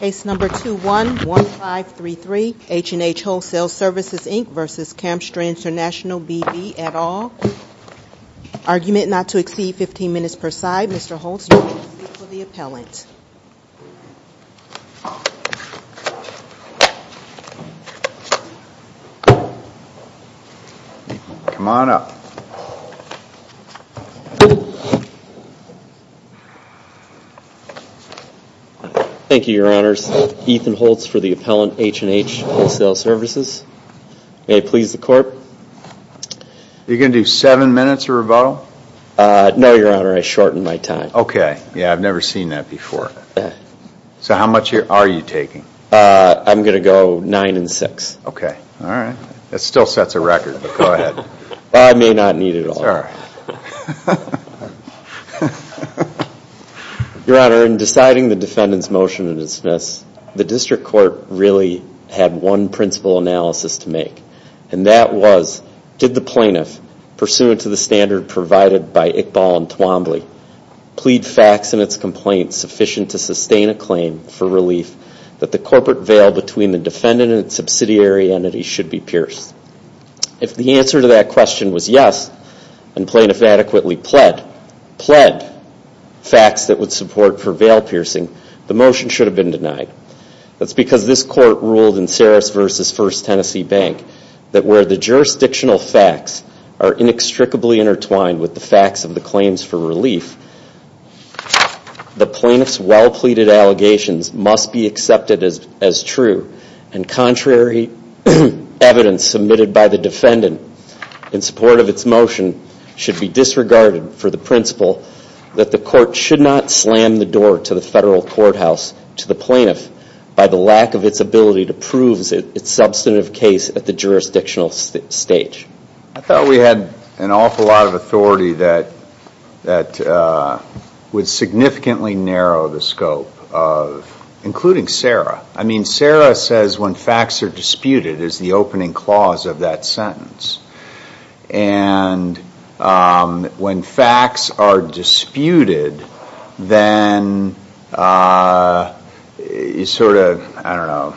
Case No. 21-1533 H&H Wholesale Services, Inc. v. Camp Strands International, B.B. et al. Argument not to exceed 15 minutes per side. Mr. Holtz, you may proceed for the appellant. Come on up. Thank you, Your Honors. Ethan Holtz for the appellant, H&H Wholesale Services. May it please the Court. Are you going to do seven minutes of rebuttal? No, Your Honor. I shortened my time. Okay. Yeah, I've never seen that before. So how much are you taking? I'm going to go nine and six. Okay. All right. That still sets a record, but go ahead. I may not need it all. Sure. Your Honor, in deciding the defendant's motion to dismiss, the district court really had one principal analysis to make, and that was, did the plaintiff, pursuant to the standard provided by Iqbal and Twombly, plead facts in its complaint sufficient to sustain a claim for relief that the corporate veil between the defendant and its subsidiary entity should be pierced? If the answer to that question was yes, and plaintiff adequately pled facts that would support for veil piercing, the motion should have been denied. That's because this court ruled in Saris v. First Tennessee Bank that where the jurisdictional facts are inextricably intertwined with the facts of the claims for relief, the plaintiff's well-pleaded allegations must be accepted as true, and contrary evidence submitted by the defendant in support of its motion should be disregarded for the principle that the court should not slam the door to the federal courthouse to the plaintiff by the lack of its ability to prove its substantive case at the jurisdictional stage. I thought we had an awful lot of authority that would significantly narrow the scope of, including Sarah. I mean, Sarah says when facts are disputed is the opening clause of that sentence. And when facts are disputed, then you sort of, I don't know,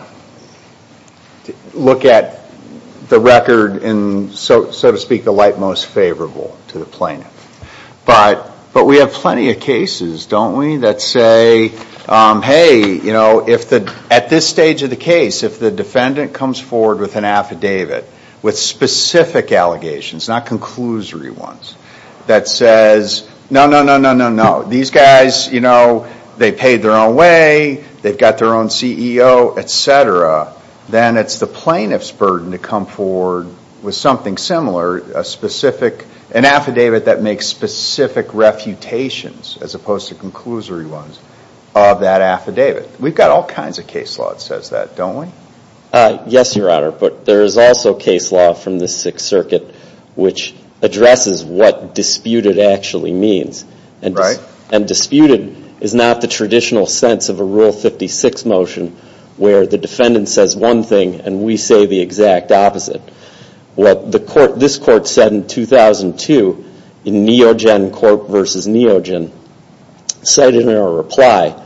look at the record in, so to speak, the light most favorable to the plaintiff. But we have plenty of cases, don't we, that say, hey, you know, at this stage of the case, if the defendant comes forward with an affidavit with specific allegations, not conclusory ones, that says, no, no, no, no, no, no, these guys, you know, they paid their own way, they've got their own CEO, et cetera, then it's the plaintiff's burden to come forward with something similar, an affidavit that makes specific refutations as opposed to conclusory ones of that affidavit. We've got all kinds of case law that says that, don't we? Yes, Your Honor. But there is also case law from the Sixth Circuit which addresses what disputed actually means. And disputed is not the traditional sense of a Rule 56 motion where the defendant says one thing and we say the exact opposite. What this Court said in 2002 in Neogen Court v. Neogen, cited in our reply,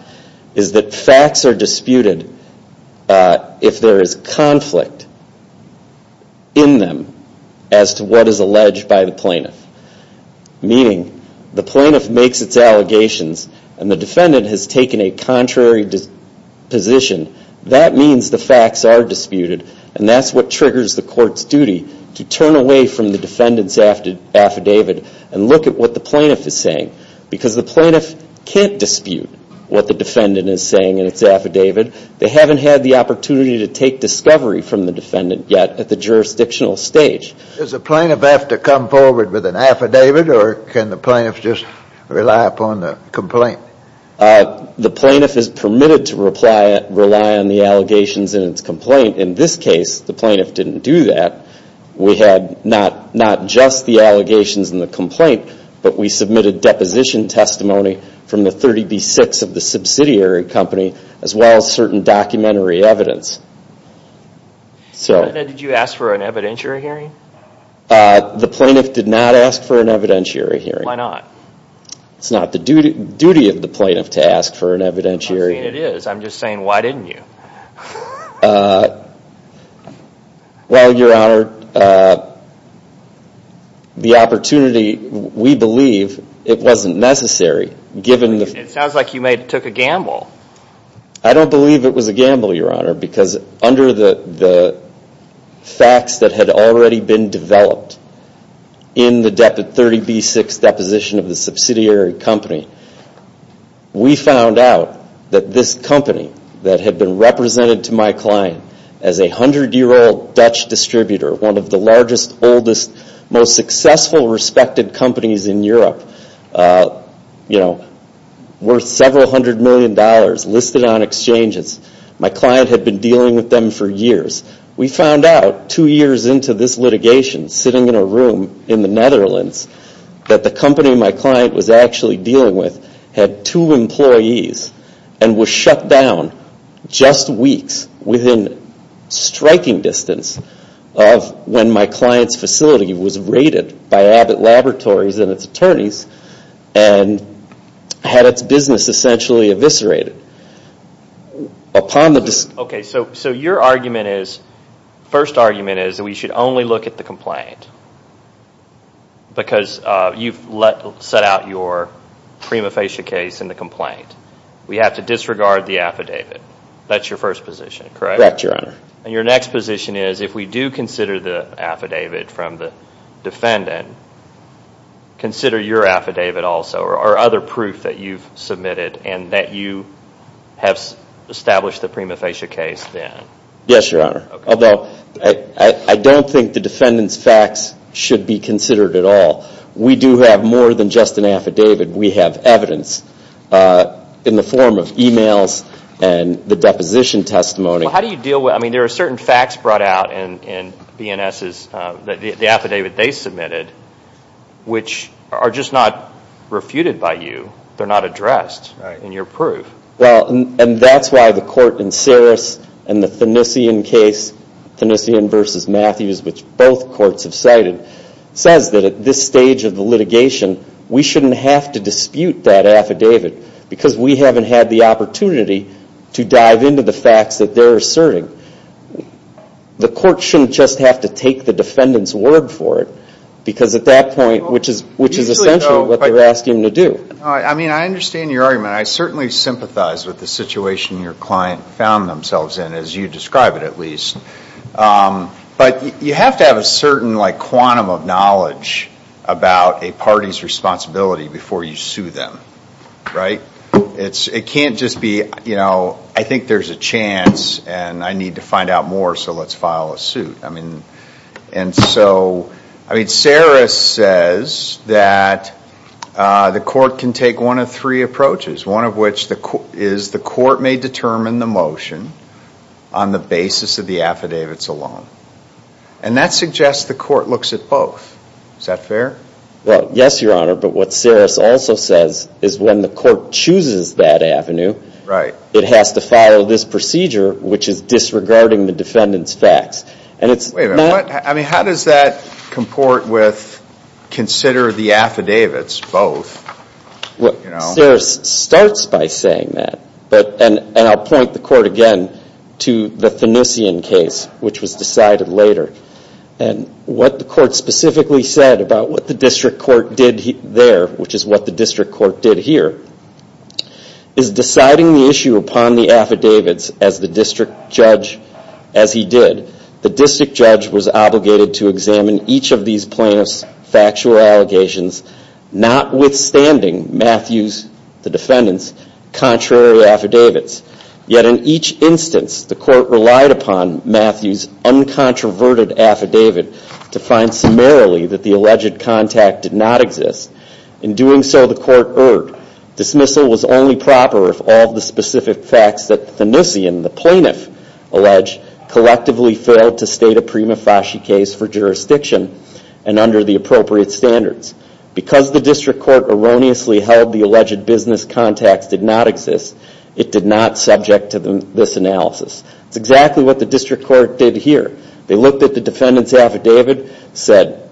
is that facts are disputed if there is conflict in them as to what is alleged by the plaintiff. Meaning the plaintiff makes its allegations and the defendant has taken a contrary position. That means the facts are disputed and that's what triggers the Court's duty to turn away from the defendant's affidavit and look at what the plaintiff is saying. Because the plaintiff can't dispute what the defendant is saying in its affidavit. They haven't had the opportunity to take discovery from the defendant yet at the jurisdictional stage. Does the plaintiff have to come forward with an affidavit or can the plaintiff just rely upon the complaint? The plaintiff is permitted to rely on the allegations in its complaint. In this case, the plaintiff didn't do that. We had not just the allegations in the complaint, but we submitted deposition testimony from the 30B-6 of the subsidiary company as well as certain documentary evidence. Did you ask for an evidentiary hearing? The plaintiff did not ask for an evidentiary hearing. Why not? It's not the duty of the plaintiff to ask for an evidentiary hearing. I'm saying it is. I'm just saying, why didn't you? Well, Your Honor, the opportunity, we believe, it wasn't necessary. It sounds like you took a gamble. I don't believe it was a gamble, Your Honor, because under the facts that had already been developed in the 30B-6 deposition of the subsidiary company, we found out that this company that had been represented to my client as a 100-year-old Dutch distributor, one of the largest, oldest, most successful respected companies in Europe, worth several hundred million dollars, listed on exchanges. My client had been dealing with them for years. We found out two years into this litigation, sitting in a room in the Netherlands, that the company my client was actually dealing with had two employees and was shut down just weeks within striking distance of when my client's facility was raided by Abbott Laboratories and its attorneys and had its business essentially eviscerated. Okay, so your first argument is that we should only look at the complaint because you've set out your prima facie case in the complaint. We have to disregard the affidavit. That's your first position, correct? Correct, Your Honor. And your next position is, if we do consider the affidavit from the defendant, consider your affidavit also or other proof that you've submitted and that you have established the prima facie case then? Yes, Your Honor, although I don't think the defendant's facts should be considered at all. We do have more than just an affidavit. We have evidence in the form of e-mails and the deposition testimony. Well, how do you deal with, I mean, there are certain facts brought out in B&S's, the affidavit they submitted, which are just not refuted by you. They're not addressed in your proof. Well, and that's why the court in Saris and the Thanissian case, Thanissian v. Matthews, which both courts have cited, says that at this stage of the litigation, we shouldn't have to dispute that affidavit because we haven't had the opportunity to dive into the facts that they're asserting. The court shouldn't just have to take the defendant's word for it because at that point, which is essentially what they're asking to do. I mean, I understand your argument. I certainly sympathize with the situation your client found themselves in, as you describe it at least. But you have to have a certain quantum of knowledge about a party's responsibility before you sue them, right? It can't just be, you know, I think there's a chance and I need to find out more, so let's file a suit. I mean, and so, I mean, Saris says that the court can take one of three approaches, one of which is the court may determine the motion on the basis of the affidavits alone. And that suggests the court looks at both. Is that fair? Well, yes, Your Honor, but what Saris also says is when the court chooses that avenue, it has to follow this procedure, which is disregarding the defendant's facts. Wait a minute. I mean, how does that comport with consider the affidavits both? Well, Saris starts by saying that, and I'll point the court again to the Finucian case, which was decided later. And what the court specifically said about what the district court did there, which is what the district court did here, is deciding the issue upon the affidavits as the district judge, as he did. The district judge was obligated to examine each of these plaintiffs' factual allegations, notwithstanding Matthew's, the defendant's, contrary affidavits. Yet in each instance, the court relied upon Matthew's uncontroverted affidavit to find summarily that the alleged contact did not exist. In doing so, the court erred. Dismissal was only proper if all the specific facts that Finucian, the plaintiff, alleged, collectively failed to state a prima facie case for jurisdiction and under the appropriate standards. Because the district court erroneously held the alleged business contacts did not exist, it did not subject to this analysis. It's exactly what the district court did here. They looked at the defendant's affidavit, said,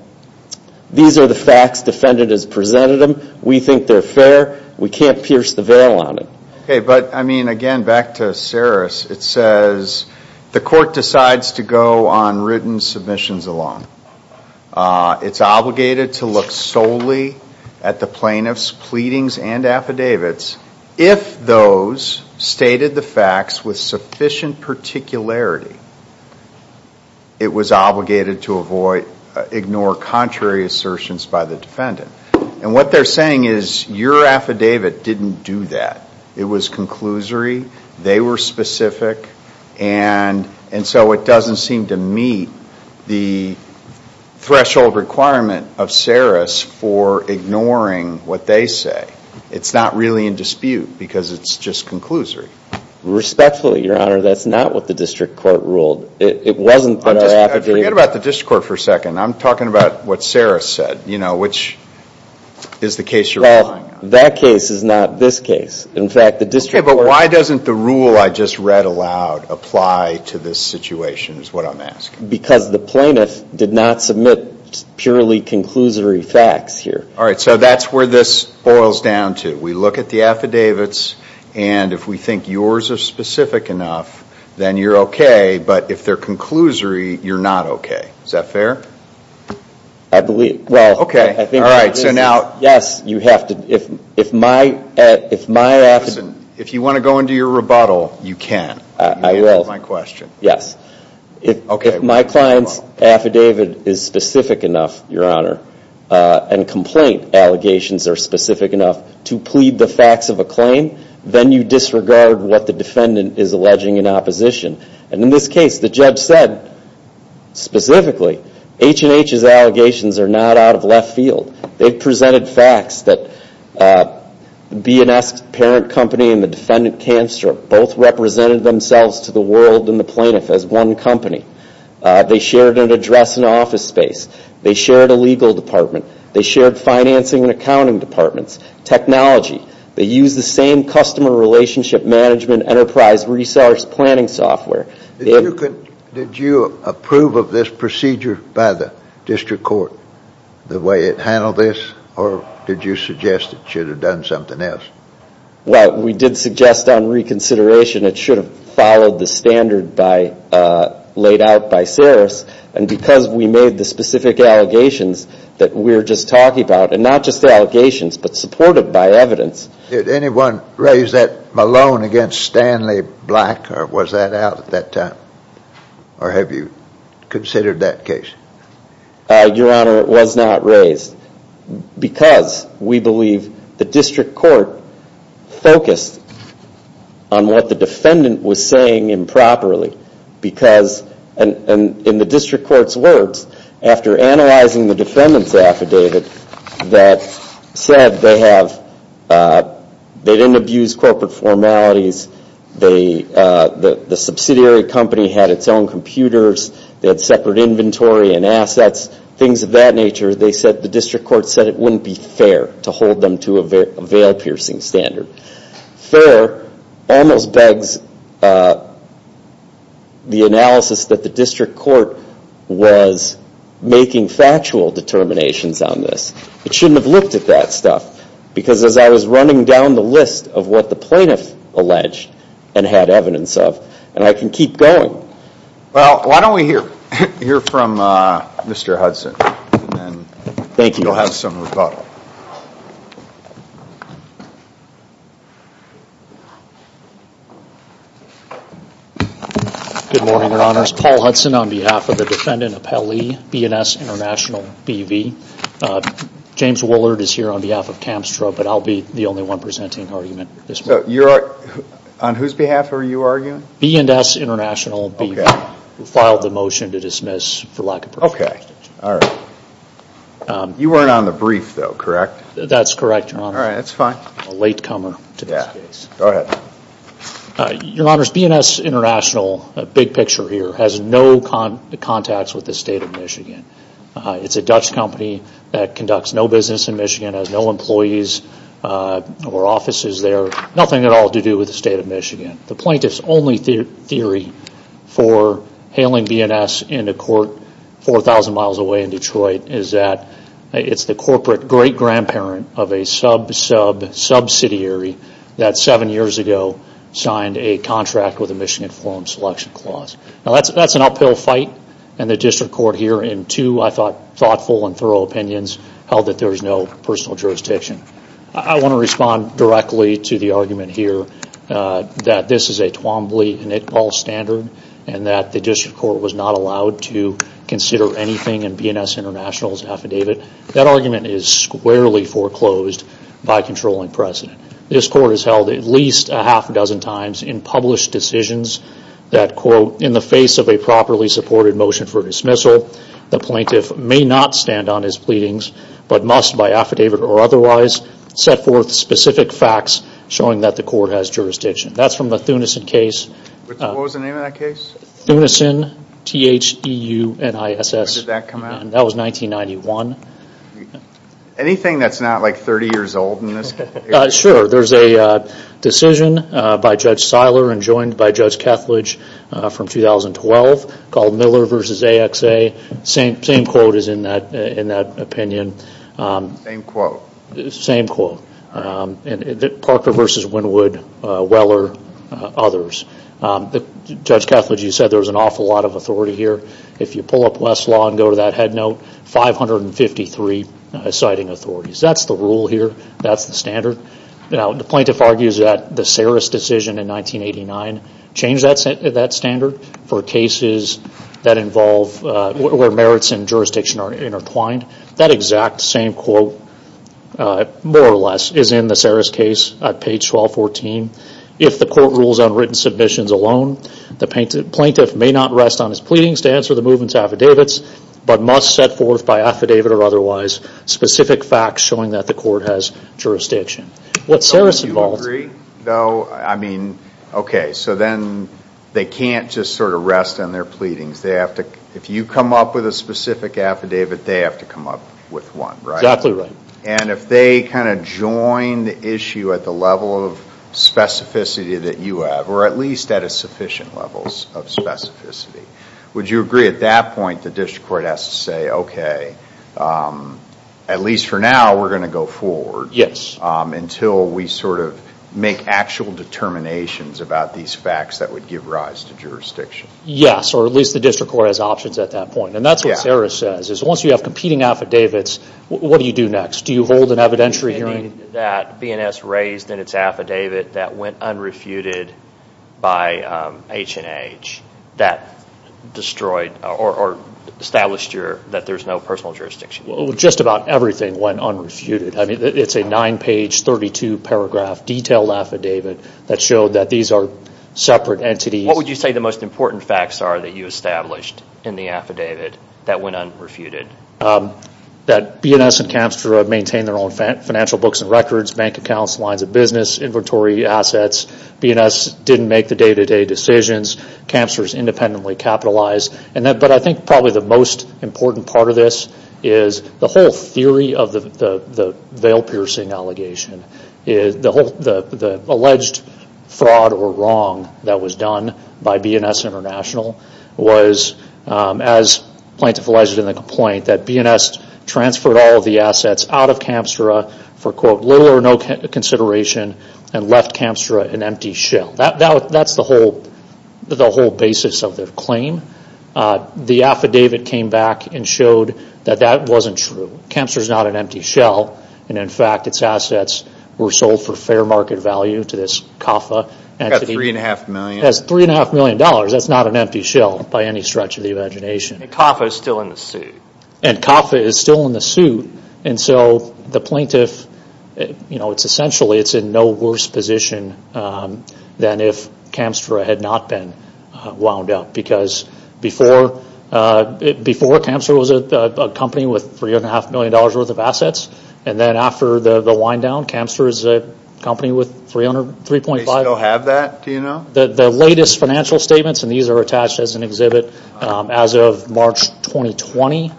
These are the facts. Defendant has presented them. We think they're fair. We can't pierce the barrel on it. But, I mean, again, back to Saris. It says the court decides to go on written submissions alone. It's obligated to look solely at the plaintiff's pleadings and affidavits. If those stated the facts with sufficient particularity, it was obligated to ignore contrary assertions by the defendant. And what they're saying is your affidavit didn't do that. It was conclusory. They were specific. And so it doesn't seem to meet the threshold requirement of Saris for ignoring what they say. It's not really in dispute because it's just conclusory. Respectfully, Your Honor, that's not what the district court ruled. It wasn't in our affidavit. Forget about the district court for a second. I'm talking about what Saris said, you know, which is the case you're relying on. Well, that case is not this case. In fact, the district court. Okay, but why doesn't the rule I just read aloud apply to this situation is what I'm asking. Because the plaintiff did not submit purely conclusory facts here. All right, so that's where this boils down to. We look at the affidavits. And if we think yours are specific enough, then you're okay. But if they're conclusory, you're not okay. Is that fair? I believe. Well, okay. All right. So now. Yes, you have to. If my. If my. If you want to go into your rebuttal, you can. I will. My question. Yes. Okay. If my client's affidavit is specific enough, your honor, and complaint allegations are specific enough to plead the facts of a claim, then you disregard what the defendant is alleging in opposition. And in this case, the judge said specifically H&H's allegations are not out of left field. They presented facts that B&S's parent company and the defendant, Canstrip, both represented themselves to the world and the plaintiff as one company. They shared an address and office space. They shared a legal department. They shared financing and accounting departments. Technology. They used the same customer relationship management enterprise resource planning software. Did you approve of this procedure by the district court, the way it handled this, or did you suggest it should have done something else? Well, we did suggest on reconsideration it should have followed the standard laid out by Saris. And because we made the specific allegations that we were just talking about, and not just the allegations but supported by evidence. Did anyone raise that Malone against Stanley Black, or was that out at that time? Or have you considered that case? Your honor, it was not raised. Because we believe the district court focused on what the defendant was saying improperly. In the district court's words, after analyzing the defendants affidavit, that said they didn't abuse corporate formalities, the subsidiary company had its own computers, they had separate inventory and assets, things of that nature, the district court said it wouldn't be fair to hold them to a veil-piercing standard. Fair almost begs the analysis that the district court was making factual determinations on this. It shouldn't have looked at that stuff. Because as I was running down the list of what the plaintiff alleged and had evidence of, and I can keep going. Well, why don't we hear from Mr. Hudson. Thank you. You'll have some rebuttal. Good morning, your honors. Paul Hudson on behalf of the defendant appellee, B&S International, BV. James Willard is here on behalf of Camstra, but I'll be the only one presenting argument at this point. On whose behalf are you arguing? B&S International, BV. We filed the motion to dismiss for lack of preference. Okay, all right. You weren't on the brief, though, correct? That's correct, your honors. All right, that's fine. A latecomer to this case. Yeah, go ahead. Your honors, B&S International, big picture here, has no contacts with the state of Michigan. It's a Dutch company that conducts no business in Michigan, has no employees or offices there, nothing at all to do with the state of Michigan. The plaintiff's only theory for hailing B&S into court 4,000 miles away in Detroit is that it's the corporate great-grandparent of a sub-sub-subsidiary that seven years ago signed a contract with the Michigan Forum Selection Clause. Now, that's an uphill fight, and the district court here, in two, I thought, thoughtful and thorough opinions, held that there is no personal jurisdiction. I want to respond directly to the argument here that this is a Twombly and Iqbal standard and that the district court was not allowed to consider anything in B&S International's affidavit. That argument is squarely foreclosed by controlling precedent. This court has held at least a half a dozen times in published decisions that, quote, in the face of a properly supported motion for dismissal, the plaintiff may not stand on his pleadings but must, by affidavit or otherwise, set forth specific facts showing that the court has jurisdiction. That's from the Thunesen case. What was the name of that case? Thunesen, T-H-E-U-N-I-S-S. When did that come out? That was 1991. Anything that's not, like, 30 years old in this case? Sure. There's a decision by Judge Seiler and joined by Judge Kethledge from 2012 called Miller v. AXA. Same quote is in that opinion. Same quote. Same quote. Parker v. Wynwood, Weller, others. Judge Kethledge, you said there was an awful lot of authority here. If you pull up Westlaw and go to that headnote, 553 citing authorities. That's the rule here. That's the standard. The plaintiff argues that the Saris decision in 1989 changed that standard for cases where merits and jurisdiction are intertwined. That exact same quote, more or less, is in the Saris case at page 1214. If the court rules on written submissions alone, the plaintiff may not rest on his pleadings to answer the movement's affidavits but must set forth by affidavit or otherwise specific facts showing that the court has jurisdiction. What Saris involves... Do you agree, though? I mean, okay, so then they can't just sort of rest on their pleadings. If you come up with a specific affidavit, they have to come up with one, right? Exactly right. And if they kind of join the issue at the level of specificity that you have, or at least at a sufficient level of specificity, would you agree at that point the district court has to say, okay, at least for now we're going to go forward until we sort of make actual determinations about these facts that would give rise to jurisdiction? Yes, or at least the district court has options at that point. And that's what Saris says. Once you have competing affidavits, what do you do next? Do you hold an evidentiary hearing? raised in its affidavit that went unrefuted by H&H that destroyed or established that there's no personal jurisdiction? Well, just about everything went unrefuted. I mean, it's a nine-page, 32-paragraph detailed affidavit that showed that these are separate entities. What would you say the most important facts are that you established in the affidavit that went unrefuted? That B&S and Camstra maintained their own financial books and records, bank accounts, lines of business, inventory assets. B&S didn't make the day-to-day decisions. Camstra is independently capitalized. But I think probably the most important part of this is the whole theory of the veil-piercing allegation. The alleged fraud or wrong that was done by B&S International was, as plentiful as it is in the complaint, that B&S transferred all of the assets out of Camstra for, quote, little or no consideration and left Camstra an empty shell. That's the whole basis of their claim. The affidavit came back and showed that that wasn't true. Camstra is not an empty shell. And, in fact, its assets were sold for fair market value to this CAFA entity. About $3.5 million. As $3.5 million, that's not an empty shell by any stretch of the imagination. And CAFA is still in the suit. And CAFA is still in the suit. And so the plaintiff, essentially, is in no worse position than if Camstra had not been wound up. Because before, Camstra was a company with $3.5 million worth of assets. And then after the wind-down, Camstra is a company with $3.5 million. The latest financial statements, and these are attached as an exhibit, as of March 2020,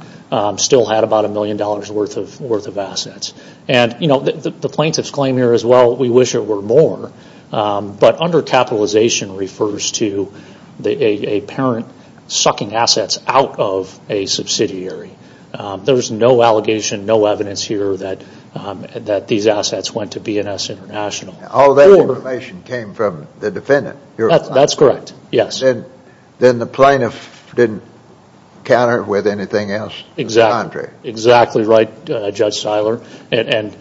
still had about $1 million worth of assets. And the plaintiff's claim here is, well, we wish it were more. But undercapitalization refers to a parent sucking assets out of a subsidiary. There is no allegation, no evidence here that these assets went to B&S International. All that information came from the defendant? That's correct, yes. Then the plaintiff didn't counter with anything else? Exactly right, Judge Siler. And,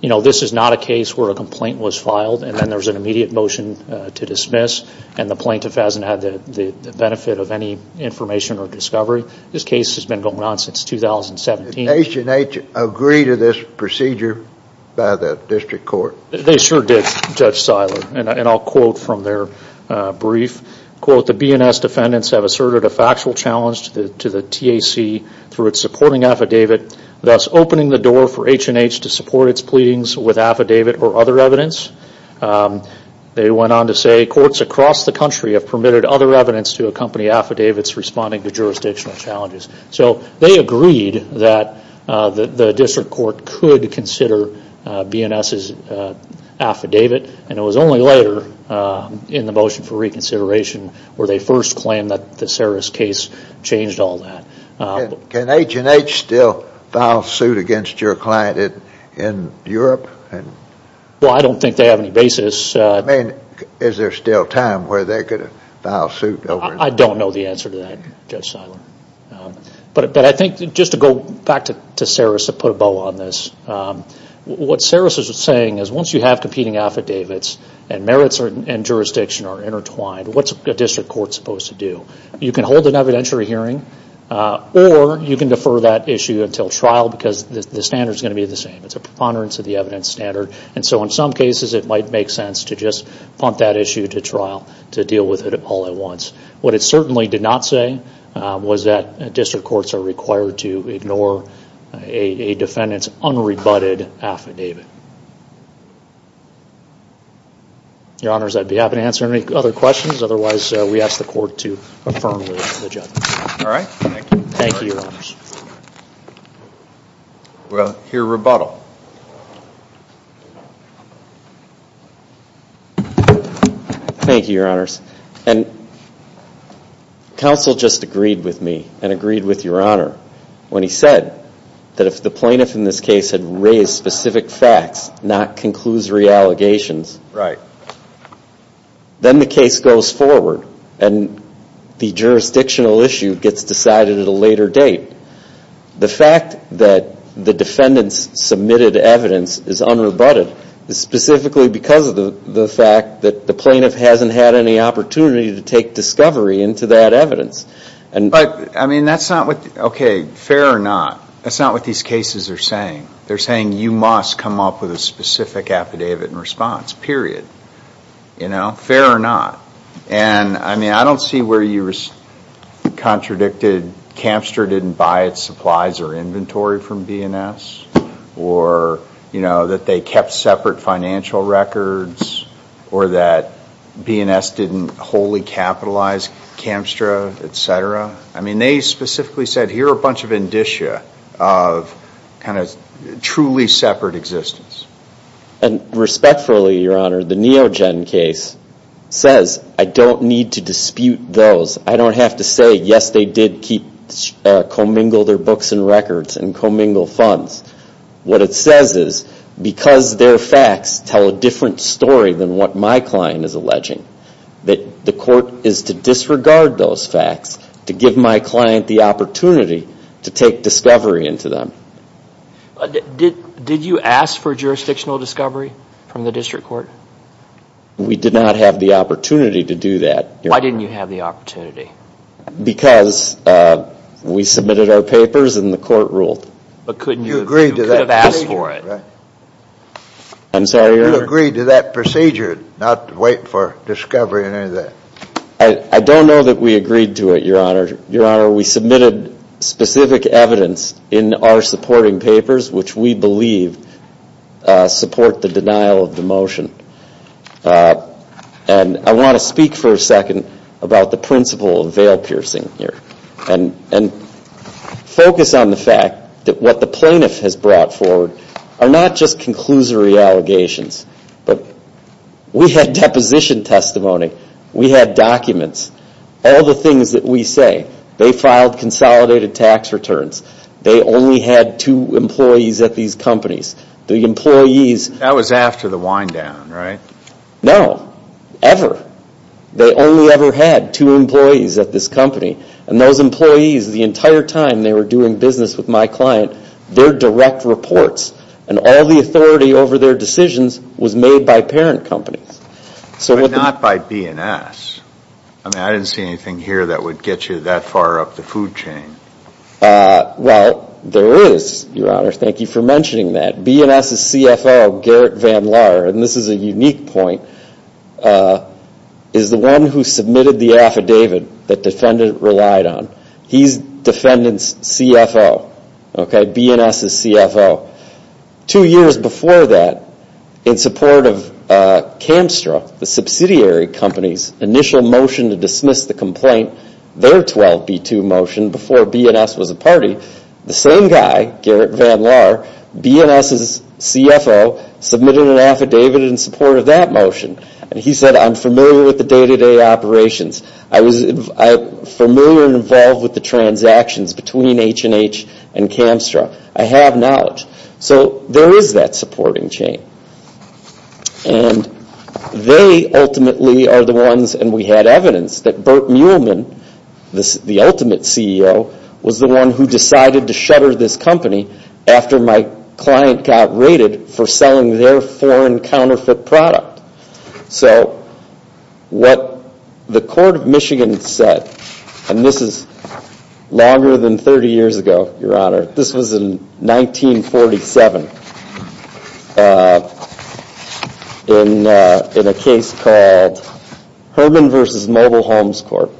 you know, this is not a case where a complaint was filed and then there was an immediate motion to dismiss, and the plaintiff hasn't had the benefit of any information or discovery. This case has been going on since 2017. Did H&H agree to this procedure by the district court? They sure did, Judge Siler, and I'll quote from their brief. Quote, the B&S defendants have asserted a factual challenge to the TAC through its supporting affidavit, thus opening the door for H&H to support its pleadings with affidavit or other evidence. They went on to say courts across the country have permitted other evidence to accompany affidavits responding to jurisdictional challenges. So they agreed that the district court could consider B&S's affidavit, and it was only later in the motion for reconsideration where they first claimed that the Saris case changed all that. Can H&H still file suit against your client in Europe? Well, I don't think they have any basis. I mean, is there still time where they could file suit? I don't know the answer to that, Judge Siler. But I think just to go back to Saris to put a bow on this, what Saris is saying is once you have competing affidavits and merits and jurisdiction are intertwined, what's a district court supposed to do? You can hold an evidentiary hearing or you can defer that issue until trial because the standard is going to be the same. It's a preponderance of the evidence standard, and so in some cases it might make sense to just punt that issue to trial to deal with it all at once. What it certainly did not say was that district courts are required to ignore a defendant's unrebutted affidavit. Your Honors, I'd be happy to answer any other questions. Otherwise, we ask the Court to affirm the judgment. All right. Thank you. Thank you, Your Honors. We'll hear rebuttal. Thank you, Your Honors. Counsel just agreed with me and agreed with Your Honor when he said that if the plaintiff in this case had raised specific facts, not conclusory allegations, then the case goes forward and the jurisdictional issue gets decided at a later date. The fact that the defendant's submitted evidence is unrebutted is specifically because of the fact that the plaintiff hasn't had any opportunity to take discovery into that evidence. Okay, fair or not, that's not what these cases are saying. They're saying you must come up with a specific affidavit in response, period. Fair or not. I don't see where you contradicted Camstra didn't buy its supplies or inventory from B&S or that they kept separate financial records or that B&S didn't wholly capitalize Camstra, et cetera. They specifically said here are a bunch of indicia of truly separate existence. And respectfully, Your Honor, the Neogen case says I don't need to dispute those. I don't have to say, yes, they did commingle their books and records and commingle funds. What it says is because their facts tell a different story than what my client is alleging, that the court is to disregard those facts to give my client the opportunity to take discovery into them. Did you ask for jurisdictional discovery from the district court? We did not have the opportunity to do that. Why didn't you have the opportunity? Because we submitted our papers and the court ruled. But couldn't you have asked for it? I'm sorry, Your Honor. You agreed to that procedure, not wait for discovery and any of that. I don't know that we agreed to it, Your Honor. Your Honor, we submitted specific evidence in our supporting papers, which we believe support the denial of the motion. And I want to speak for a second about the principle of veil piercing here and focus on the fact that what the plaintiff has brought forward are not just conclusory allegations, but we had deposition testimony. We had documents, all the things that we say. They filed consolidated tax returns. They only had two employees at these companies. The employees... That was after the wind down, right? No, ever. They only ever had two employees at this company. And those employees, the entire time they were doing business with my client, their direct reports and all the authority over their decisions was made by parent companies. But not by B&S. I mean, I didn't see anything here that would get you that far up the food chain. Well, there is, Your Honor. Thank you for mentioning that. B&S's CFO, Garrett Van Laar, and this is a unique point, is the one who submitted the affidavit that defendant relied on. He's defendant's CFO, okay? B&S's CFO. Two years before that, in support of Camstra, the subsidiary company's initial motion to dismiss the complaint, their 12B2 motion before B&S was a party, the same guy, Garrett Van Laar, B&S's CFO, submitted an affidavit in support of that motion. And he said, I'm familiar with the day-to-day operations. I'm familiar and involved with the transactions between H&H and Camstra. I have knowledge. So there is that supporting chain. And they ultimately are the ones, and we had evidence, that Burt Muehlman, the ultimate CEO, was the one who decided to shutter this company after my client got raided for selling their foreign counterfeit product. So what the court of Michigan said, and this is longer than 30 years ago, Your Honor, this was in 1947, in a case called Herman v. Mobile Homes Court,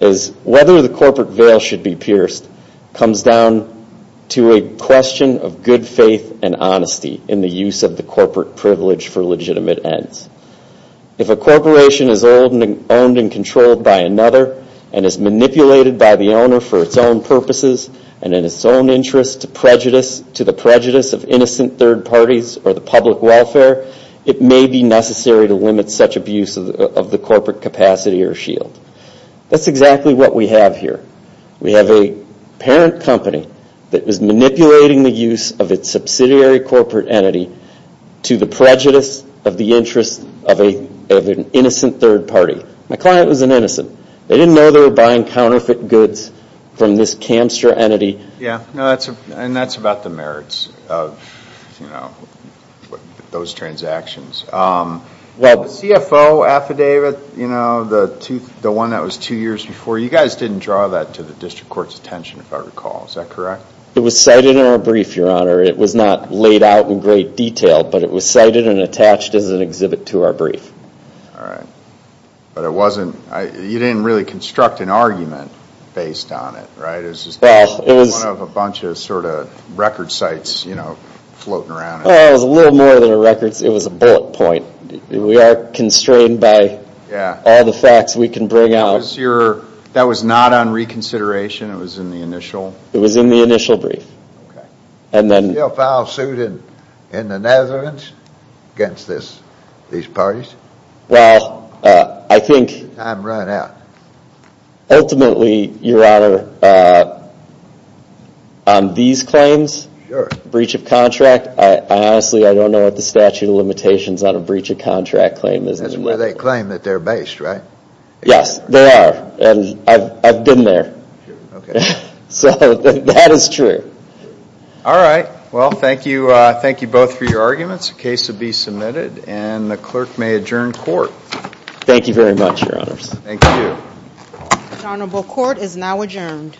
is whether the corporate veil should be pierced comes down to a question of good faith and honesty in the use of the corporate privilege for legitimate ends. If a corporation is owned and controlled by another and is manipulated by the owner for its own purposes and in its own interest to the prejudice of innocent third parties or the public welfare, it may be necessary to limit such abuse of the corporate capacity or shield. That's exactly what we have here. We have a parent company that is manipulating the use of its subsidiary corporate entity to the prejudice of the interest of an innocent third party. My client was an innocent. They didn't know they were buying counterfeit goods from this campster entity. Yeah, and that's about the merits of those transactions. The CFO affidavit, the one that was two years before, you guys didn't draw that to the district court's attention, if I recall. Is that correct? It was cited in our brief, Your Honor. It was not laid out in great detail, but it was cited and attached as an exhibit to our brief. All right. You didn't really construct an argument based on it, right? It was just one of a bunch of sort of record sites floating around. It was a little more than a record. It was a bullet point. We are constrained by all the facts we can bring out. That was not on reconsideration? It was in the initial? It was in the initial brief. Okay. Still foul-suited in the Netherlands against these parties? Well, I think ultimately, Your Honor, on these claims, breach of contract, honestly, I don't know what the statute of limitations on a breach of contract claim is. That's where they claim that they're based, right? Yes, they are, and I've been there. Okay. So that is true. All right. Well, thank you both for your arguments. The case will be submitted, and the clerk may adjourn court. Thank you very much, Your Honors. Thank you. The honorable court is now adjourned.